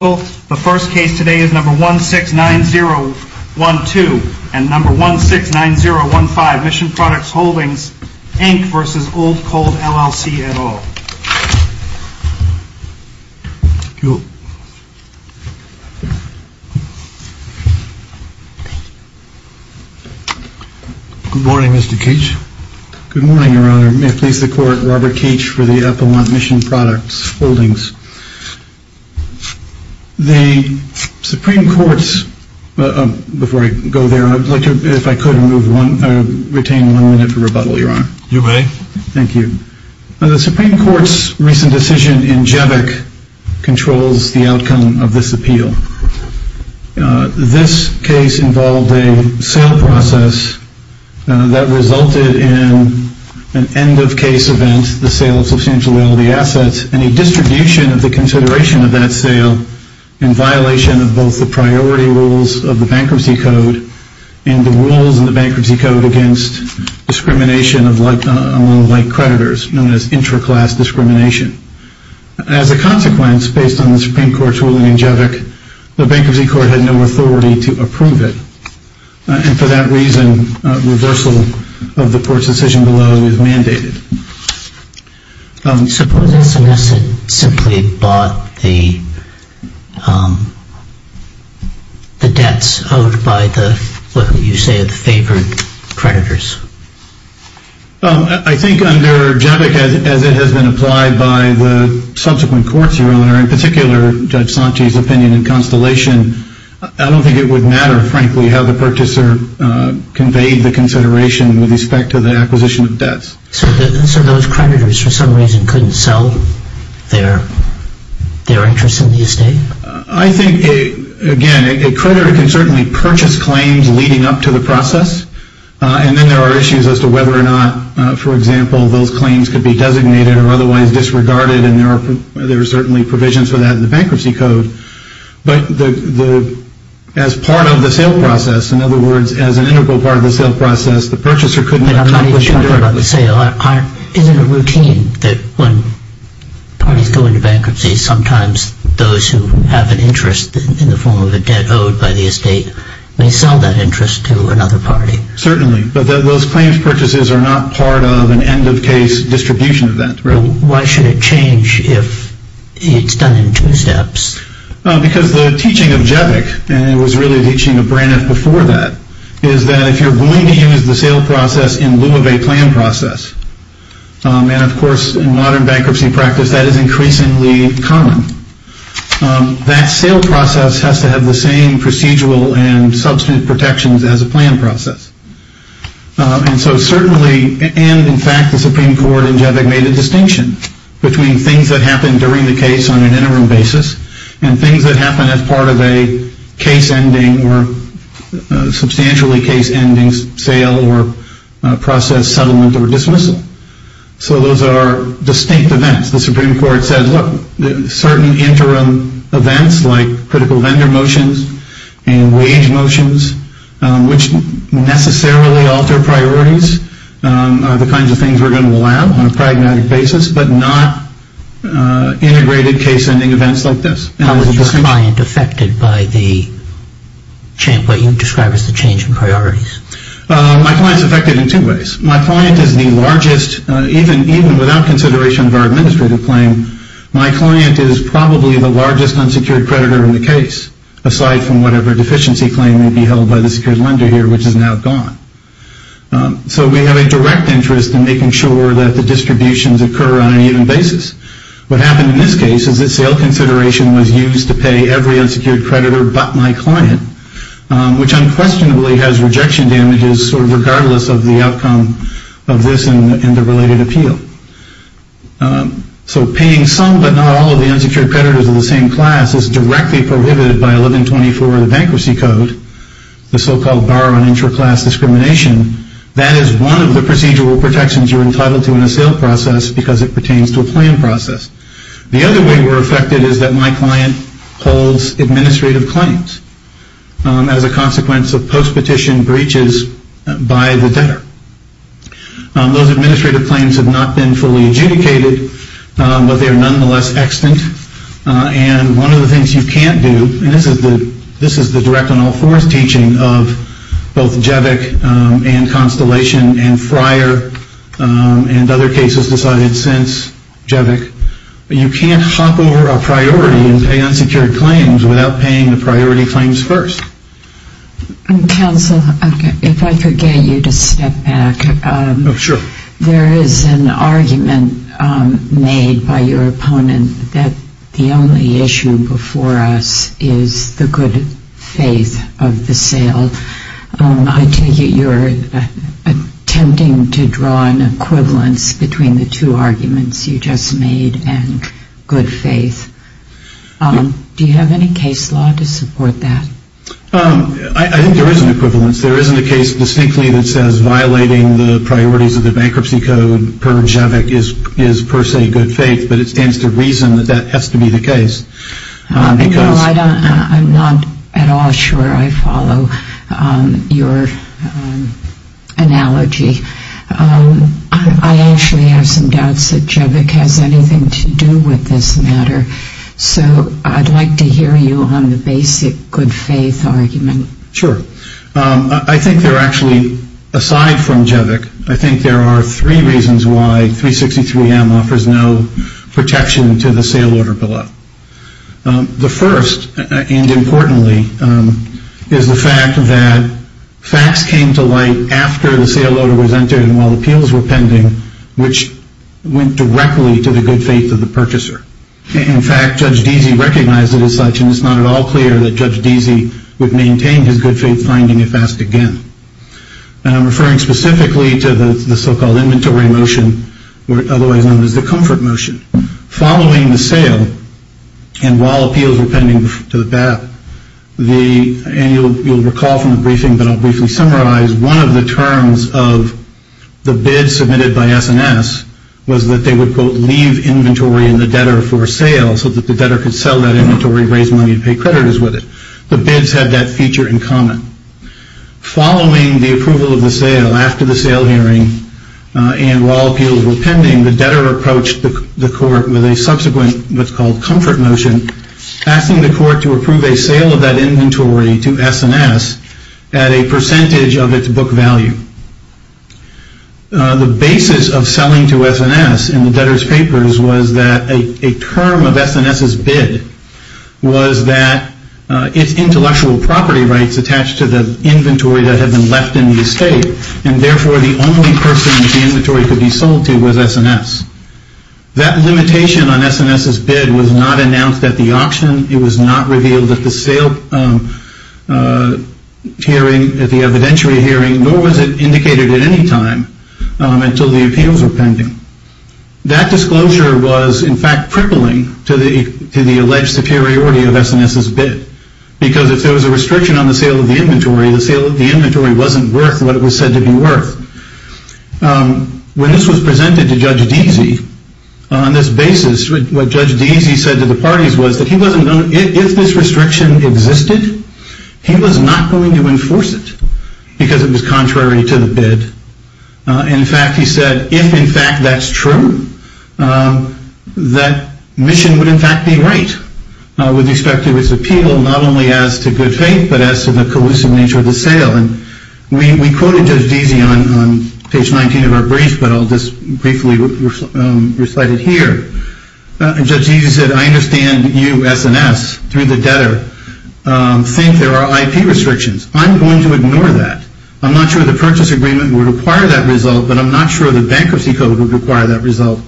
The first case today is number 169012 and number 169015, Mission Products Holdings, Inc. v. Old Cold, LLC, et al. Thank you. Good morning, Mr. Cage. Good morning, Your Honor. May I please the Court, Robert Cage for the Appalachian Mission Products Holdings. The Supreme Court's, before I go there, I would like to, if I could, retain one minute for rebuttal, Your Honor. You may. Thank you. The Supreme Court's recent decision in Jevic controls the outcome of this appeal. This case involved a sale process that resulted in an end-of-case event, the sale of substantial realty assets, and a distribution of the consideration of that sale in violation of both the priority rules of the Bankruptcy Code and the rules of the Bankruptcy Code against discrimination among like creditors, known as intra-class discrimination. As a consequence, based on the Supreme Court's ruling in Jevic, the Bankruptcy Court had no authority to approve it. And for that reason, reversal of the Court's decision below is mandated. Suppose SMS had simply bought the debts owed by the, what you say, the favored creditors? I think under Jevic, as it has been applied by the subsequent courts, Your Honor, in particular Judge Sante's opinion in Constellation, I don't think it would matter, frankly, how the purchaser conveyed the consideration with respect to the acquisition of debts. So those creditors, for some reason, couldn't sell their interests in the estate? I think, again, a creditor can certainly purchase claims leading up to the process, and then there are issues as to whether or not, for example, those claims could be designated or otherwise disregarded, and there are certainly provisions for that in the Bankruptcy Code. But as part of the sale process, in other words, as an integral part of the sale process, the purchaser couldn't accomplish... But I'm not even talking about the sale. Isn't it routine that when parties go into bankruptcy, sometimes those who have an interest in the form of a debt owed by the estate may sell that interest to another party? Certainly, but those claims purchases are not part of an end-of-case distribution event, right? Why should it change if it's done in two steps? Because the teaching of Jevic, and it was really the teaching of Braniff before that, is that if you're going to use the sale process in lieu of a plan process, and of course, in modern bankruptcy practice, that is increasingly common, that sale process has to have the same procedural and substantive protections as a plan process. And so certainly, and in fact, the Supreme Court in Jevic made a distinction between things that happened during the case on an interim basis and things that happen as part of a case-ending or substantially case-ending sale or process settlement or dismissal. So those are distinct events. The Supreme Court said, look, certain interim events like critical vendor motions and wage motions, which necessarily alter priorities, are the kinds of things we're going to allow on a pragmatic basis, but not integrated case-ending events like this. How is your client affected by what you describe as the change in priorities? My client is affected in two ways. My client is the largest, even without consideration of our administrative claim, my client is probably the largest unsecured creditor in the case, aside from whatever deficiency claim may be held by the secured lender here, which is now gone. So we have a direct interest in making sure that the distributions occur on an even basis. What happened in this case is that sale consideration was used to pay every unsecured creditor but my client, which unquestionably has rejection damages sort of regardless of the outcome of this and the related appeal. So paying some but not all of the unsecured creditors of the same class is directly prohibited by 1124 of the Bankruptcy Code, the so-called bar on intra-class discrimination. That is one of the procedural protections you're entitled to in a sale process because it pertains to a plan process. The other way we're affected is that my client holds administrative claims as a consequence of post-petition breaches by the debtor. Those administrative claims have not been fully adjudicated, but they are nonetheless extant. One of the things you can't do, and this is the direct on all fours teaching of both Jevick and Constellation and Fryer and other cases decided since Jevick, you can't hop over a priority and pay unsecured claims without paying the priority claims first. Counsel, if I could get you to step back. Sure. There is an argument made by your opponent that the only issue before us is the good faith of the sale. I take it you're attempting to draw an equivalence between the two arguments you just made and good faith. Do you have any case law to support that? I think there is an equivalence. There isn't a case distinctly that says violating the priorities of the bankruptcy code per Jevick is per se good faith, but it stands to reason that that has to be the case. No, I'm not at all sure I follow your analogy. I actually have some doubts that Jevick has anything to do with this matter, so I'd like to hear you on the basic good faith argument. Sure. I think there are actually, aside from Jevick, I think there are three reasons why 363M offers no protection to the sale order below. The first, and importantly, is the fact that facts came to light after the sale order was entered and while appeals were pending, which went directly to the good faith of the purchaser. In fact, Judge Deasy recognized it as such, and it's not at all clear that Judge Deasy would maintain his good faith finding if asked again. And I'm referring specifically to the so-called inventory motion, otherwise known as the comfort motion. Following the sale and while appeals were pending to the BAP, and you'll recall from the briefing, but I'll briefly summarize, one of the terms of the bid submitted by S&S was that they would, quote, in the debtor for sale so that the debtor could sell that inventory, raise money, and pay creditors with it. The bids had that feature in common. Following the approval of the sale, after the sale hearing, and while appeals were pending, the debtor approached the court with a subsequent what's called comfort motion, asking the court to approve a sale of that inventory to S&S at a percentage of its book value. The basis of selling to S&S in the debtor's papers was that a term of S&S's bid was that its intellectual property rights attached to the inventory that had been left in the estate, and therefore the only person that the inventory could be sold to was S&S. That limitation on S&S's bid was not announced at the auction. It was not revealed at the evidentiary hearing, nor was it indicated at any time until the appeals were pending. That disclosure was, in fact, crippling to the alleged superiority of S&S's bid, because if there was a restriction on the sale of the inventory, the sale of the inventory wasn't worth what it was said to be worth. When this was presented to Judge Deasy on this basis, what Judge Deasy said to the parties was that if this restriction existed, he was not going to enforce it, because it was contrary to the bid. In fact, he said, if in fact that's true, that mission would in fact be right with respect to its appeal, not only as to good faith, but as to the collusive nature of the sale. We quoted Judge Deasy on page 19 of our brief, but I'll just briefly recite it here. Judge Deasy said, I understand you, S&S, through the debtor, think there are IP restrictions. I'm going to ignore that. I'm not sure the purchase agreement would require that result, but I'm not sure the bankruptcy code would require that result.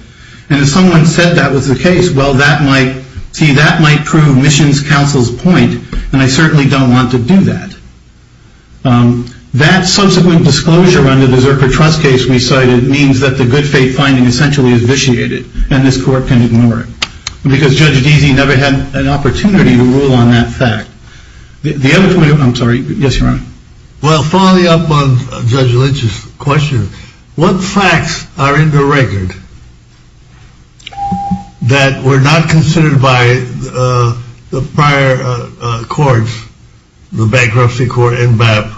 And if someone said that was the case, well, that might prove Mission's counsel's point, and I certainly don't want to do that. That subsequent disclosure under the Zerker trust case we cited means that the good faith finding essentially is vitiated, and this court can ignore it, because Judge Deasy never had an opportunity to rule on that fact. The other point, I'm sorry, yes, Your Honor. Well, following up on Judge Lynch's question, what facts are in the record that were not considered by the prior courts, the bankruptcy court and BAP,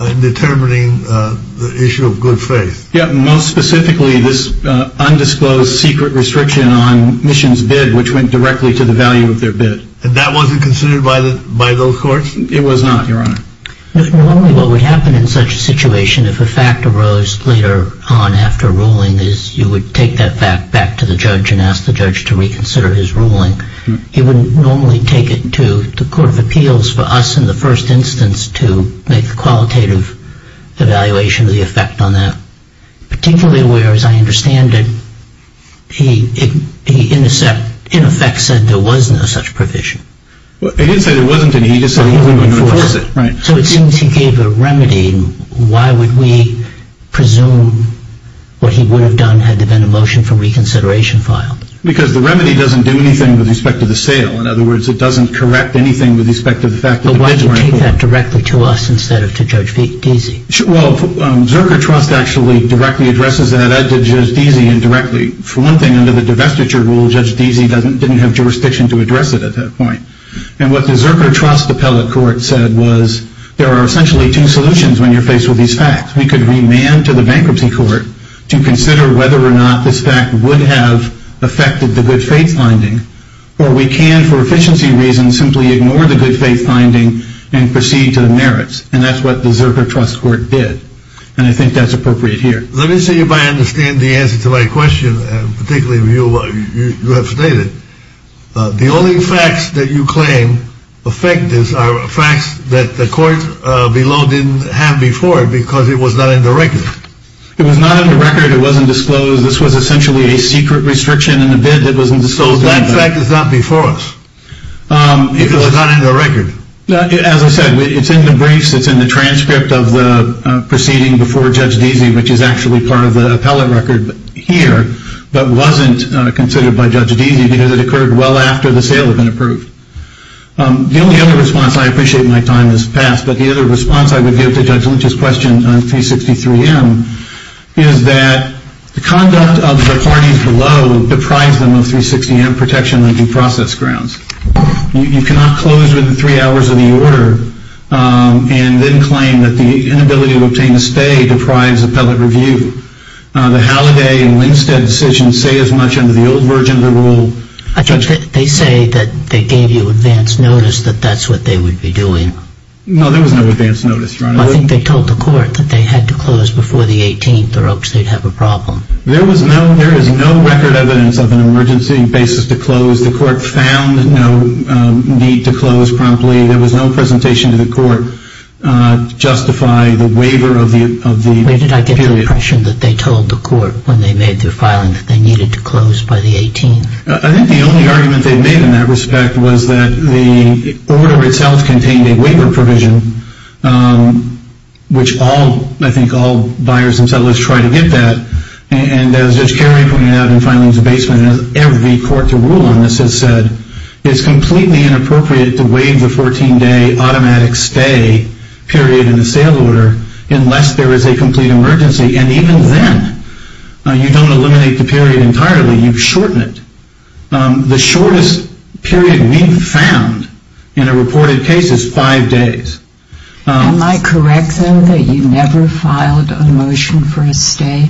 in determining the issue of good faith? Most specifically, this undisclosed secret restriction on Mission's bid, which went directly to the value of their bid. And that wasn't considered by those courts? It was not, Your Honor. Normally what would happen in such a situation if a fact arose later on after ruling is you would take that fact back to the judge and ask the judge to reconsider his ruling. He wouldn't normally take it to the court of appeals for us in the first instance to make a qualitative evaluation of the effect on that, particularly where, as I understand it, he in effect said there was no such provision. He didn't say there wasn't any. He just said he wouldn't enforce it. So it seems he gave a remedy. Why would we presume what he would have done had there been a motion for reconsideration filed? Because the remedy doesn't do anything with respect to the sale. In other words, it doesn't correct anything with respect to the fact that the bids were in. Why would he take that directly to us instead of to Judge Deasy? Well, Zerker Trust actually directly addresses that to Judge Deasy indirectly. For one thing, under the divestiture rule, Judge Deasy didn't have jurisdiction to address it at that point. And what the Zerker Trust appellate court said was there are essentially two solutions when you're faced with these facts. We could remand to the bankruptcy court to consider whether or not this fact would have affected the good faith finding, or we can, for efficiency reasons, simply ignore the good faith finding and proceed to the merits. And that's what the Zerker Trust court did. And I think that's appropriate here. Let me see if I understand the answer to my question, particularly what you have stated. The only facts that you claim affect this are facts that the court below didn't have before because it was not in the record. It was not in the record. It wasn't disclosed. This was essentially a secret restriction in the bid that wasn't disclosed. So that fact is not before us because it's not in the record. As I said, it's in the briefs. It's in the transcript of the proceeding before Judge Deasy, which is actually part of the appellate record here, but wasn't considered by Judge Deasy because it occurred well after the sale had been approved. The only other response, I appreciate my time has passed, but the other response I would give to Judge Lynch's question on 363M is that the conduct of the parties below deprives them of 360M protection on due process grounds. You cannot close within three hours of the order and then claim that the inability to obtain a stay deprives the appellate review. The Halliday and Winstead decisions say as much under the old version of the rule. I think they say that they gave you advance notice that that's what they would be doing. No, there was no advance notice. I think they told the court that they had to close before the 18th or else they'd have a problem. There is no record evidence of an emergency basis to close. The court found no need to close promptly. There was no presentation to the court to justify the waiver of the period. Where did I get the impression that they told the court when they made their filing that they needed to close by the 18th? I think the only argument they made in that respect was that the order itself contained a waiver provision, which I think all buyers and settlers try to get that. And as Judge Carey pointed out in Filings of Basement, as every court to rule on this has said, it's completely inappropriate to waive the 14-day automatic stay period in the sale order unless there is a complete emergency. And even then, you don't eliminate the period entirely. You shorten it. The shortest period we've found in a reported case is five days. Am I correct, though, that you never filed a motion for a stay?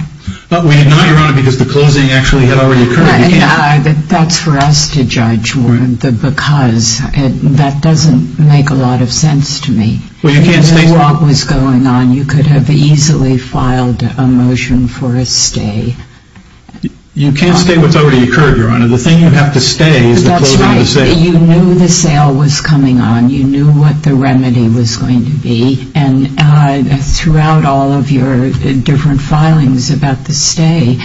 We did not, Your Honor, because the closing actually had already occurred. That's for us to judge, because that doesn't make a lot of sense to me. Well, you can't say what was going on. You could have easily filed a motion for a stay. You can't say what's already occurred, Your Honor. The thing you have to stay is the closing of the sale. That's right. You knew the sale was coming on. You knew what the remedy was going to be. And throughout all of your different filings about the stay,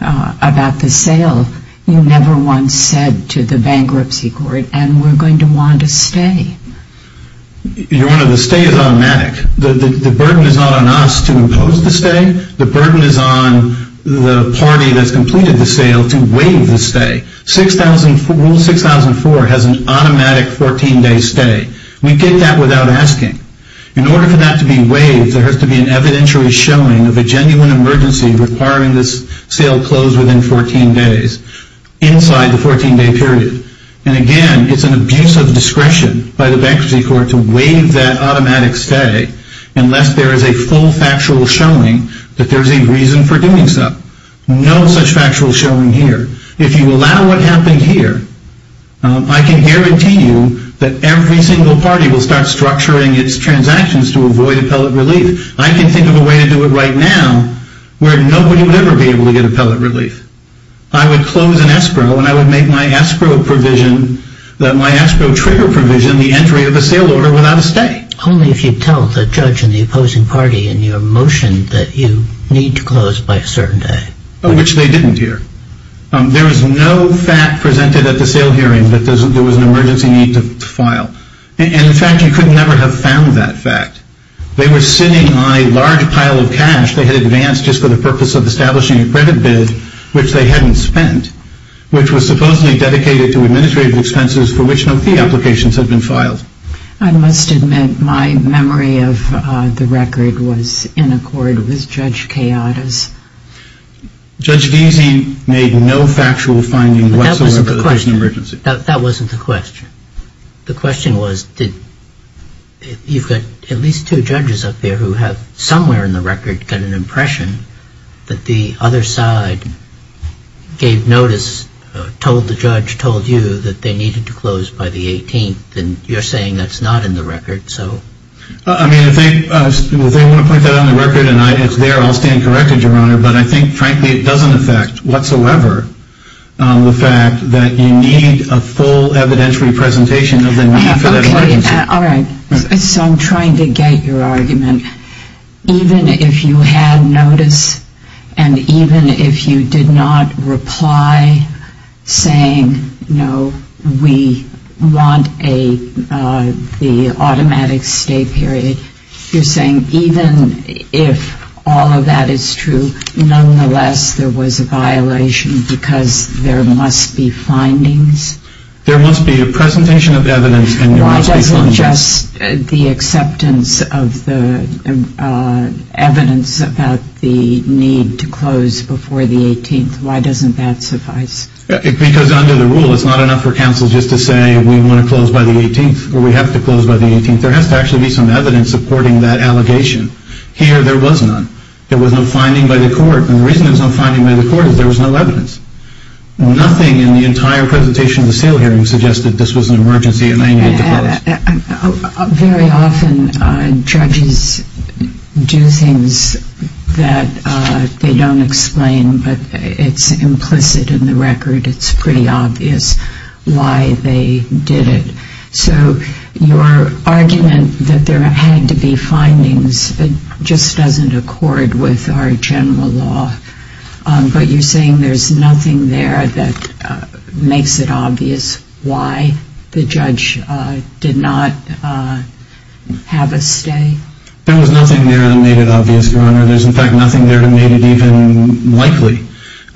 about the sale, you never once said to the bankruptcy court, and we're going to want a stay. Your Honor, the stay is automatic. The burden is not on us to impose the stay. The burden is on the party that's completed the sale to waive the stay. Rule 6004 has an automatic 14-day stay. We get that without asking. In order for that to be waived, there has to be an evidentiary showing of a genuine emergency requiring this sale closed within 14 days inside the 14-day period. And again, it's an abuse of discretion by the bankruptcy court to waive that automatic stay unless there is a full factual showing that there's a reason for doing so. No such factual showing here. If you allow what happened here, I can guarantee you that every single party will start structuring its transactions to avoid appellate relief. I can think of a way to do it right now where nobody would ever be able to get appellate relief. I would close an escrow, and I would make my escrow provision, my escrow trigger provision the entry of a sale order without a stay. Only if you tell the judge and the opposing party in your motion that you need to close by a certain day. Which they didn't hear. There was no fact presented at the sale hearing that there was an emergency need to file. And, in fact, you could never have found that fact. They were sitting on a large pile of cash they had advanced just for the purpose of establishing a credit bid, which they hadn't spent, which was supposedly dedicated to administrative expenses for which no fee applications had been filed. I must admit, my memory of the record was in accord with Judge Kayada's. Judge Deasy made no factual finding whatsoever that there was an emergency. That wasn't the question. The question was, you've got at least two judges up there who have somewhere in the record got an impression that the other side gave notice, told the judge, told you that they needed to close by the 18th, and you're saying that's not in the record, so. I mean, if they want to put that on the record and it's there, I'll stand corrected, Your Honor. But I think, frankly, it doesn't affect whatsoever the fact that you need a full evidentiary presentation of the need for that emergency. So I'm trying to get your argument. Even if you had notice and even if you did not reply saying, you know, we want the automatic stay period, you're saying even if all of that is true, nonetheless there was a violation because there must be findings? There must be a presentation of evidence and there must be findings. It's just the acceptance of the evidence about the need to close before the 18th. Why doesn't that suffice? Because under the rule it's not enough for counsel just to say we want to close by the 18th or we have to close by the 18th. There has to actually be some evidence supporting that allegation. Here there was none. There was no finding by the court, and the reason there was no finding by the court is there was no evidence. Nothing in the entire presentation of the sale hearing suggested this was an emergency and I needed to close. Very often judges do things that they don't explain, but it's implicit in the record. It's pretty obvious why they did it. So your argument that there had to be findings just doesn't accord with our general law. But you're saying there's nothing there that makes it obvious why the judge did not have a stay? There was nothing there that made it obvious, Your Honor. There's, in fact, nothing there that made it even likely.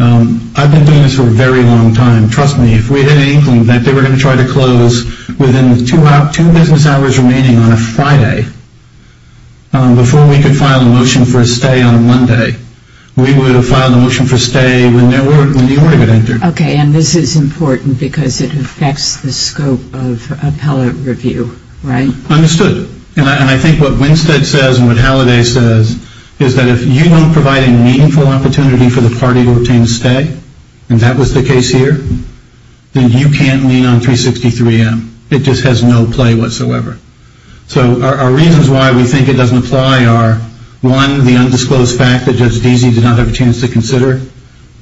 I've been doing this for a very long time. Trust me, if we had any inkling that they were going to try to close within two business hours remaining on a Friday before we could file a motion for a stay on a Monday, we would have filed a motion for a stay when the order had entered. Okay, and this is important because it affects the scope of appellate review, right? Understood. And I think what Winstead says and what Halliday says is that if you don't provide a meaningful opportunity for the party to obtain a stay, and that was the case here, then you can't lean on 363M. It just has no play whatsoever. So our reasons why we think it doesn't apply are, one, the undisclosed fact that Judge Deasy did not have a chance to consider.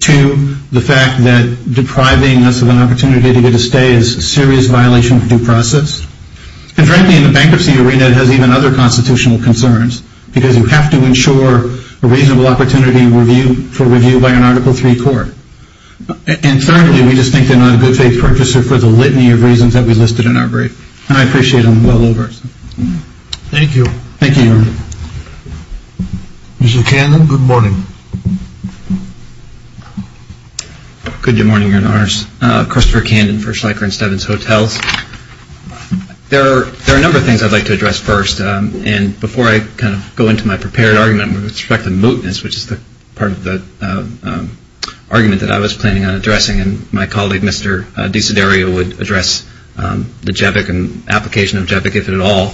Two, the fact that depriving us of an opportunity to get a stay is a serious violation of due process. And frankly, in the bankruptcy arena, it has even other constitutional concerns because you have to ensure a reasonable opportunity for review by an Article III court. And thirdly, we just think they're not a good faith purchaser for the litany of reasons that we listed in our brief. And I appreciate them well over. Thank you. Thank you, Your Honor. Mr. Candon, good morning. Good morning, Your Honors. Christopher Candon for Schleicher and Stevens Hotels. There are a number of things I'd like to address first. And before I kind of go into my prepared argument with respect to mootness, which is part of the argument that I was planning on addressing, and my colleague, Mr. Desiderio, would address the JEVIC and application of JEVIC, if at all.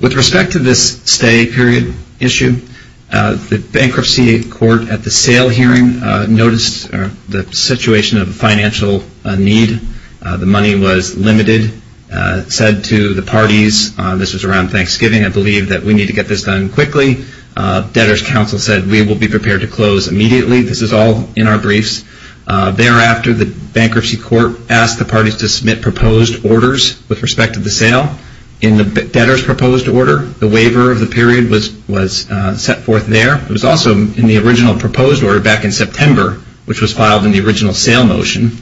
With respect to this stay period issue, the bankruptcy court at the sale hearing noticed the situation of a financial need. The money was limited. It said to the parties, this was around Thanksgiving, I believe, that we need to get this done quickly. Debtor's counsel said, we will be prepared to close immediately. This is all in our briefs. Thereafter, the bankruptcy court asked the parties to submit proposed orders with respect to the sale. In the debtor's proposed order, the waiver of the period was set forth there. It was also in the original proposed order back in September, which was filed in the original sale motion.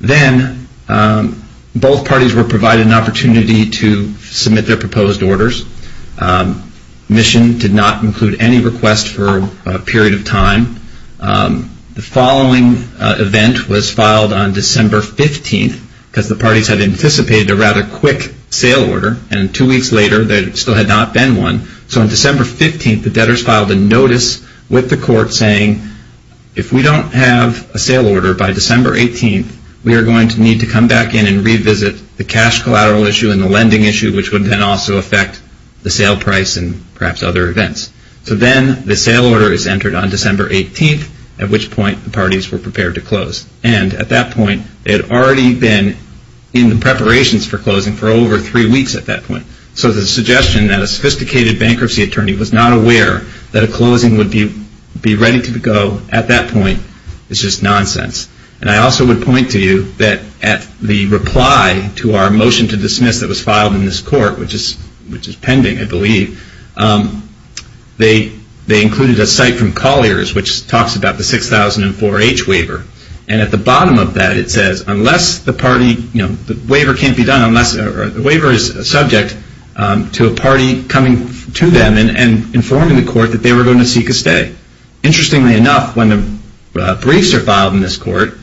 Then, both parties were provided an opportunity to submit their proposed orders. Mission did not include any request for a period of time. The following event was filed on December 15th, because the parties had anticipated a rather quick sale order, and two weeks later, there still had not been one. So, on December 15th, the debtors filed a notice with the court saying, if we don't have a sale order by December 18th, we are going to need to come back in and revisit the cash collateral issue and the lending issue, which would then also affect the sale price and perhaps other events. So then, the sale order is entered on December 18th, at which point the parties were prepared to close. And, at that point, they had already been in the preparations for closing for over three weeks at that point. So, the suggestion that a sophisticated bankruptcy attorney was not aware that a closing would be ready to go at that point is just nonsense. And, I also would point to you that at the reply to our motion to dismiss that was filed in this court, which is pending, I believe, they included a cite from Collier's, which talks about the 6004H waiver. And, at the bottom of that, it says, unless the party, you know, the waiver can't be done unless, the waiver is subject to a party coming to them and informing the court that they were going to seek a stay. Interestingly enough, when the briefs are filed in this court,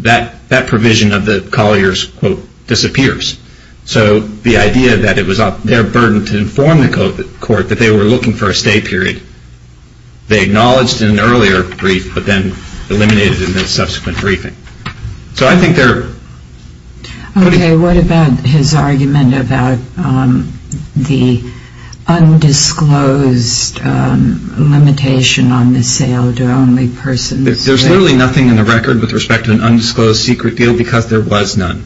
that provision of the Collier's, quote, disappears. So, the idea that it was their burden to inform the court that they were looking for a stay period, they acknowledged in an earlier brief, but then eliminated in the subsequent briefing. So, I think they're... Okay, what about his argument about the undisclosed limitation on the sale to only persons? There's literally nothing in the record with respect to an undisclosed secret deal because there was none.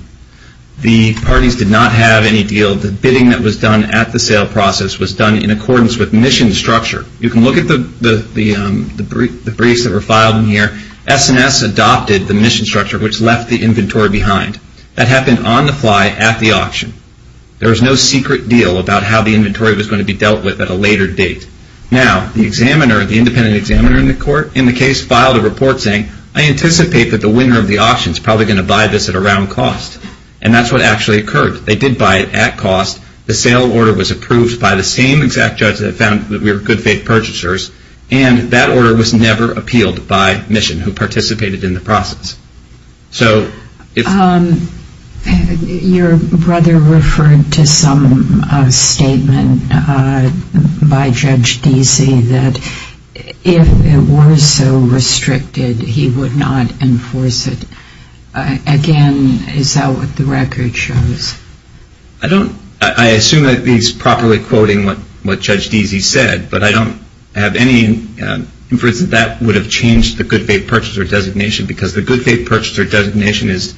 The parties did not have any deal. The bidding that was done at the sale process was done in accordance with mission structure. You can look at the briefs that were filed in here. S&S adopted the mission structure, which left the inventory behind. That happened on the fly at the auction. There was no secret deal about how the inventory was going to be dealt with at a later date. Now, the examiner, the independent examiner in the court, in the case, filed a report saying, I anticipate that the winner of the auction is probably going to buy this at a round cost. And, that's what actually occurred. They did buy it at cost. The sale order was approved by the same exact judge that found that we were good faith purchasers. And, that order was never appealed by mission, who participated in the process. So, if... Your brother referred to some statement by Judge Deasy that if it were so restricted, he would not enforce it. Again, is that what the record shows? I don't... I assume that he's properly quoting what Judge Deasy said. But, I don't have any inference that that would have changed the good faith purchaser designation. Because, the good faith purchaser designation is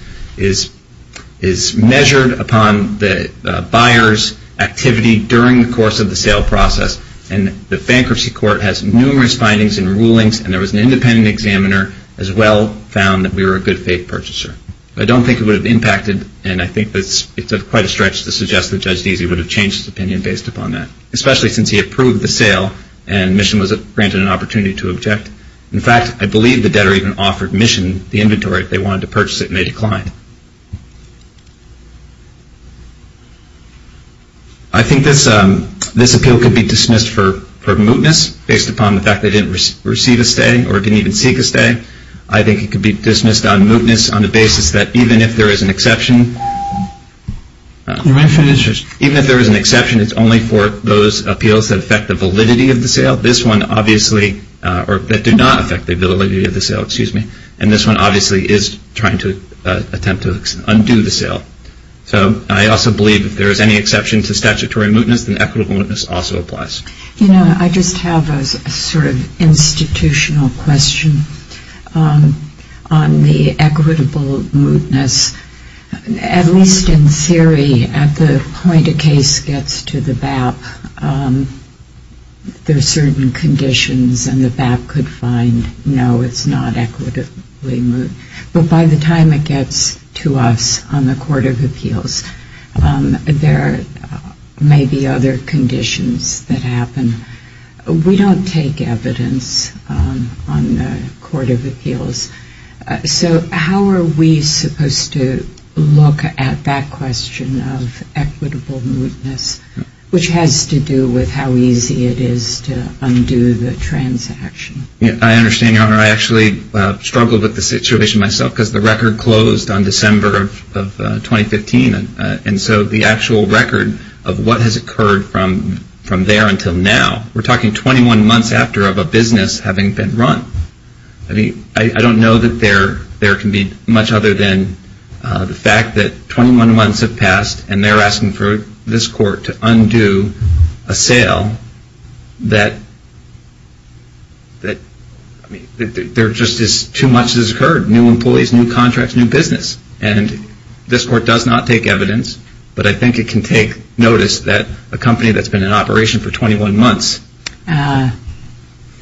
measured upon the buyer's activity during the course of the sale process. And, the bankruptcy court has numerous findings and rulings. And, there was an independent examiner, as well, found that we were a good faith purchaser. I don't think it would have impacted. And, I think it's quite a stretch to suggest that Judge Deasy would have changed his opinion based upon that. Especially, since he approved the sale and mission was granted an opportunity to object. In fact, I believe the debtor even offered mission the inventory if they wanted to purchase it and they declined. I think this appeal could be dismissed for mootness based upon the fact they didn't receive a stay or didn't even seek a stay. I think it could be dismissed on mootness on the basis that even if there is an exception... Even if there is an exception, it's only for those appeals that affect the validity of the sale. This one, obviously, or that did not affect the validity of the sale. Excuse me. And, this one, obviously, is trying to attempt to undo the sale. So, I also believe if there is any exception to statutory mootness, then equitable mootness also applies. You know, I just have a sort of institutional question on the equitable mootness. At least in theory, at the point a case gets to the BAP, there are certain conditions and the BAP could find, no, it's not equitably moot. But by the time it gets to us on the Court of Appeals, there may be other conditions that happen. We don't take evidence on the Court of Appeals. So, how are we supposed to look at that question of equitable mootness, which has to do with how easy it is to undo the transaction? I understand, Your Honor. I actually struggled with the situation myself because the record closed on December of 2015. And so, the actual record of what has occurred from there until now, we're talking 21 months after of a business having been run. I mean, I don't know that there can be much other than the fact that 21 months have passed and they're asking for this Court to undo a sale that, I mean, there just is too much that has occurred. New employees, new contracts, new business. And this Court does not take evidence, but I think it can take notice that a company that's been in operation for 21 months.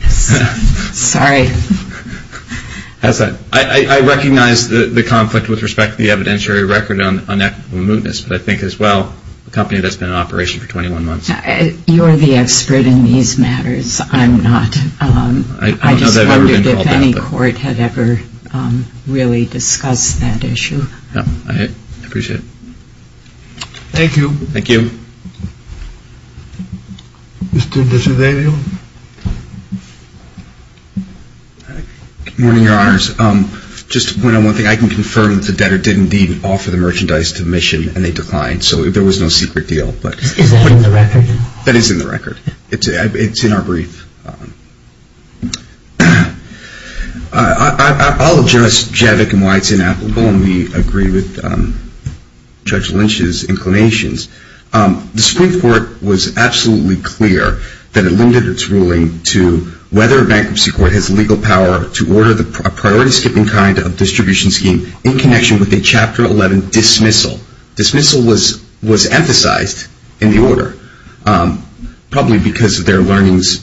Sorry. I recognize the conflict with respect to the evidentiary record on equitable mootness, but I think as well, a company that's been in operation for 21 months. You're the expert in these matters. I'm not. I don't know that I've ever been to all that. I just wondered if any court had ever really discussed that issue. No, I appreciate it. Thank you. Thank you. Mr. Bracciadario. Good morning, Your Honors. Just to point out one thing, I can confirm that the debtor did indeed offer the merchandise to the mission and they declined, so there was no secret deal. Is that in the record? That is in the record. It's in our brief. I'll address Javik and why it's inapplicable, and we agree with Judge Lynch's inclinations. The Supreme Court was absolutely clear that it limited its ruling to whether a bankruptcy court has legal power to order a priority-skipping kind of distribution scheme in connection with a Chapter 11 dismissal. Dismissal was emphasized in the order, probably because of their learnings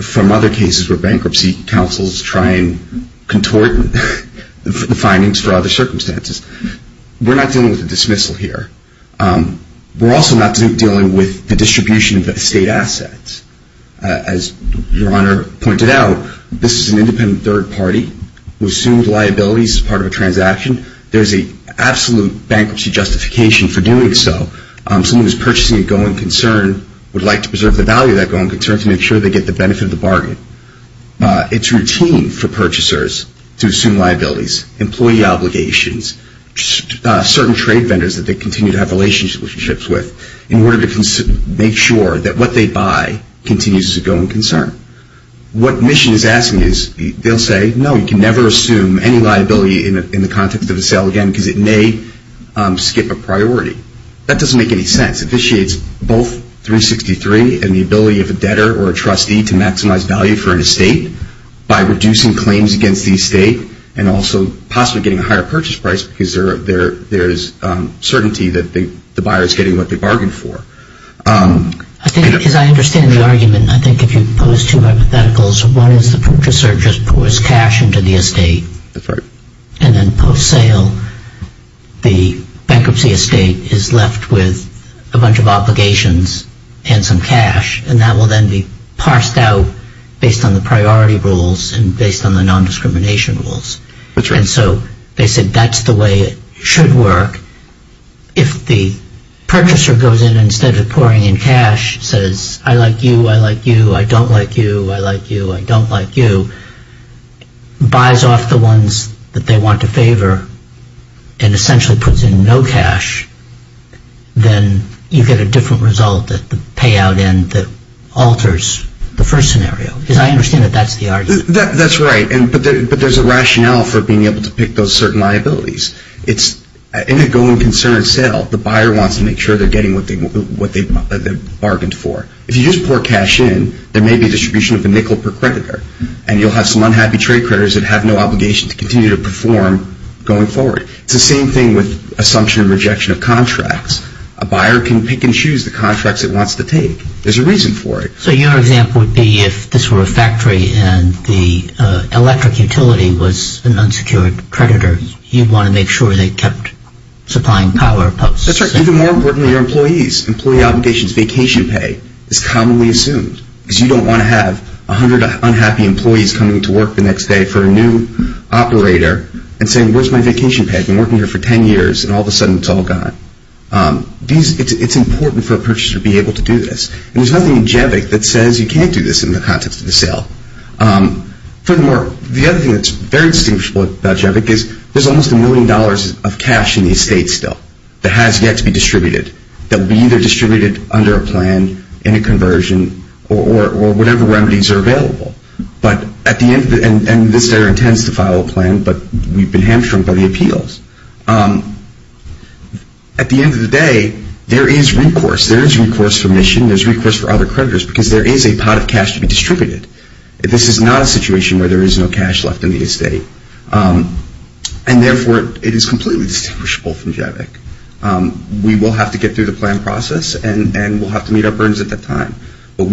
from other cases where bankruptcy counsels try and contort the findings for other circumstances. We're not dealing with a dismissal here. We're also not dealing with the distribution of estate assets. As Your Honor pointed out, this is an independent third party who assumed liabilities as part of a transaction. There's an absolute bankruptcy justification for doing so. Someone who's purchasing a go-in concern would like to preserve the value of that go-in concern to make sure they get the benefit of the bargain. It's routine for purchasers to assume liabilities, employee obligations, certain trade vendors that they continue to have relationships with, in order to make sure that what they buy continues as a go-in concern. What Mission is asking is, they'll say, no, you can never assume any liability in the context of a sale again because it may skip a priority. That doesn't make any sense. both 363 and the ability of a debtor or a trustee to maximize value for an estate by reducing claims against the estate and also possibly getting a higher purchase price because there's certainty that the buyer is getting what they bargained for. As I understand the argument, I think if you pose two hypotheticals, one is the purchaser just pours cash into the estate. That's right. And then post-sale, the bankruptcy estate is left with a bunch of obligations and some cash, and that will then be parsed out based on the priority rules and based on the non-discrimination rules. That's right. And so they said that's the way it should work. If the purchaser goes in and instead of pouring in cash, says, I like you, I like you, I don't like you, I like you, I don't like you, buys off the ones that they want to favor and essentially puts in no cash, then you get a different result at the payout end that alters the first scenario. Because I understand that that's the argument. That's right. But there's a rationale for being able to pick those certain liabilities. It's an ongoing concern itself. The buyer wants to make sure they're getting what they bargained for. If you just pour cash in, there may be a distribution of a nickel per creditor, and you'll have some unhappy trade creditors that have no obligation to continue to perform going forward. It's the same thing with assumption and rejection of contracts. A buyer can pick and choose the contracts it wants to take. There's a reason for it. So your example would be if this were a factory and the electric utility was an unsecured creditor, you'd want to make sure they kept supplying power posts. That's right. Even more important are your employees. Employee obligations, vacation pay is commonly assumed because you don't want to have 100 unhappy employees coming to work the next day for a new operator and saying, where's my vacation pay? I've been working here for 10 years, and all of a sudden it's all gone. It's important for a purchaser to be able to do this. And there's nothing in JEVIC that says you can't do this in the context of the sale. Furthermore, the other thing that's very distinguishable about JEVIC is there's almost a million dollars of cash in the estate still that has yet to be distributed that will be either distributed under a plan, in a conversion, or whatever remedies are available. But at the end of the day, and this data intends to follow a plan, but we've been hamstrung by the appeals. At the end of the day, there is recourse. There is recourse for mission. There's recourse for other creditors because there is a pot of cash to be distributed. This is not a situation where there is no cash left in the estate. And therefore, it is completely distinguishable from JEVIC. We will have to get through the plan process, and we'll have to meet our burdens at that time. But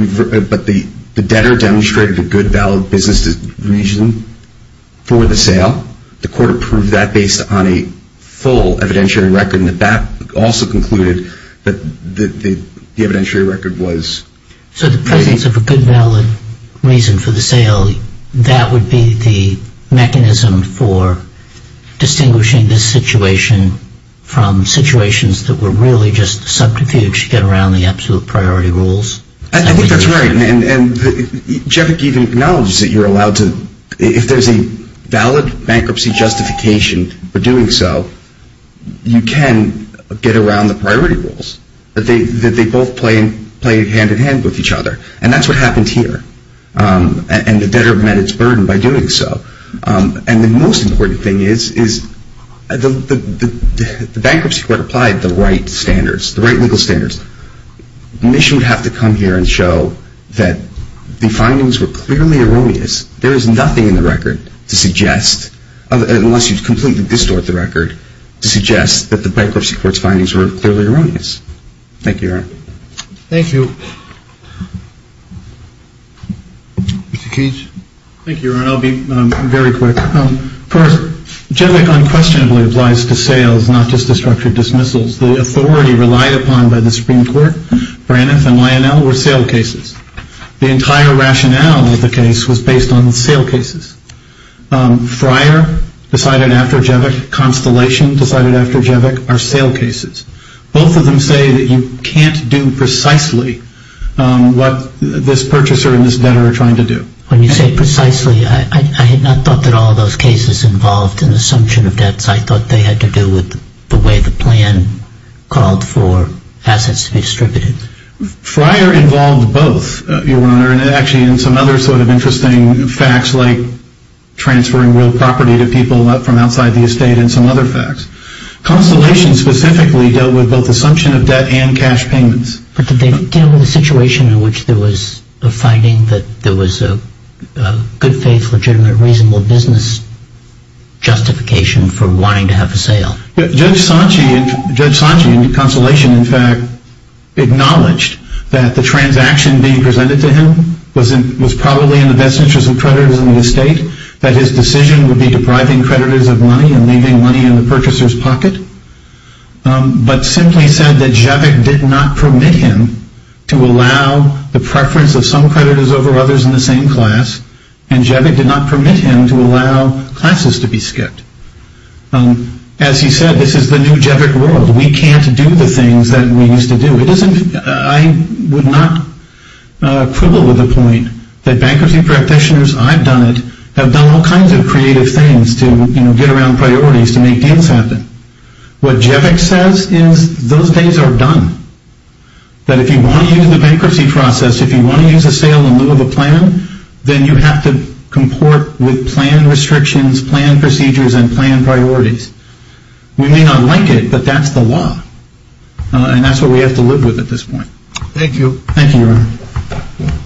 the debtor demonstrated a good, valid business reason for the sale. The court approved that based on a full evidentiary record. And that also concluded that the evidentiary record was... So the presence of a good, valid reason for the sale, that would be the mechanism for distinguishing this situation from situations that were really just subterfuge to get around the absolute priority rules? I think that's right. And JEVIC even acknowledges that you're allowed to... If there's a valid bankruptcy justification for doing so, you can get around the priority rules. They both play hand-in-hand with each other. And that's what happened here. And the debtor met its burden by doing so. And the most important thing is the bankruptcy court applied the right standards, the right legal standards. The mission would have to come here and show that the findings were clearly erroneous. There is nothing in the record to suggest, unless you completely distort the record, to suggest that the bankruptcy court's findings were clearly erroneous. Thank you, Aaron. Thank you. Mr. Cage? Thank you, Aaron. I'll be very quick. First, JEVIC unquestionably applies to sales, not just to structured dismissals. The authority relied upon by the Supreme Court, Braniff and Lionel, were sale cases. The entire rationale of the case was based on sale cases. Fryer decided after JEVIC, Constellation decided after JEVIC, are sale cases. Both of them say that you can't do precisely what this purchaser and this debtor are trying to do. When you say precisely, I had not thought that all those cases involved an assumption of debts. I thought they had to do with the way the plan called for assets to be distributed. Fryer involved both, Your Honor, and actually in some other sort of interesting facts, like transferring real property to people from outside the estate and some other facts. Constellation specifically dealt with both assumption of debt and cash payments. But did they deal with a situation in which there was a finding that there was a good faith, legitimate, reasonable business justification for wanting to have a sale? Judge Sanchi and Constellation, in fact, acknowledged that the transaction being presented to him was probably in the best interest of creditors in the estate, that his decision would be depriving creditors of money and leaving money in the purchaser's pocket, but simply said that JEVIC did not permit him to allow the preference of some creditors over others in the same class, and JEVIC did not permit him to allow classes to be skipped. As he said, this is the new JEVIC world. We can't do the things that we used to do. I would not quibble with the point that bankruptcy practitioners, I've done it, have done all kinds of creative things to get around priorities to make deals happen. What JEVIC says is those days are done. That if you want to use the bankruptcy process, if you want to use a sale in lieu of a plan, then you have to comport with planned restrictions, planned procedures, and planned priorities. We may not like it, but that's the law. And that's what we have to live with at this point. Thank you. Thank you.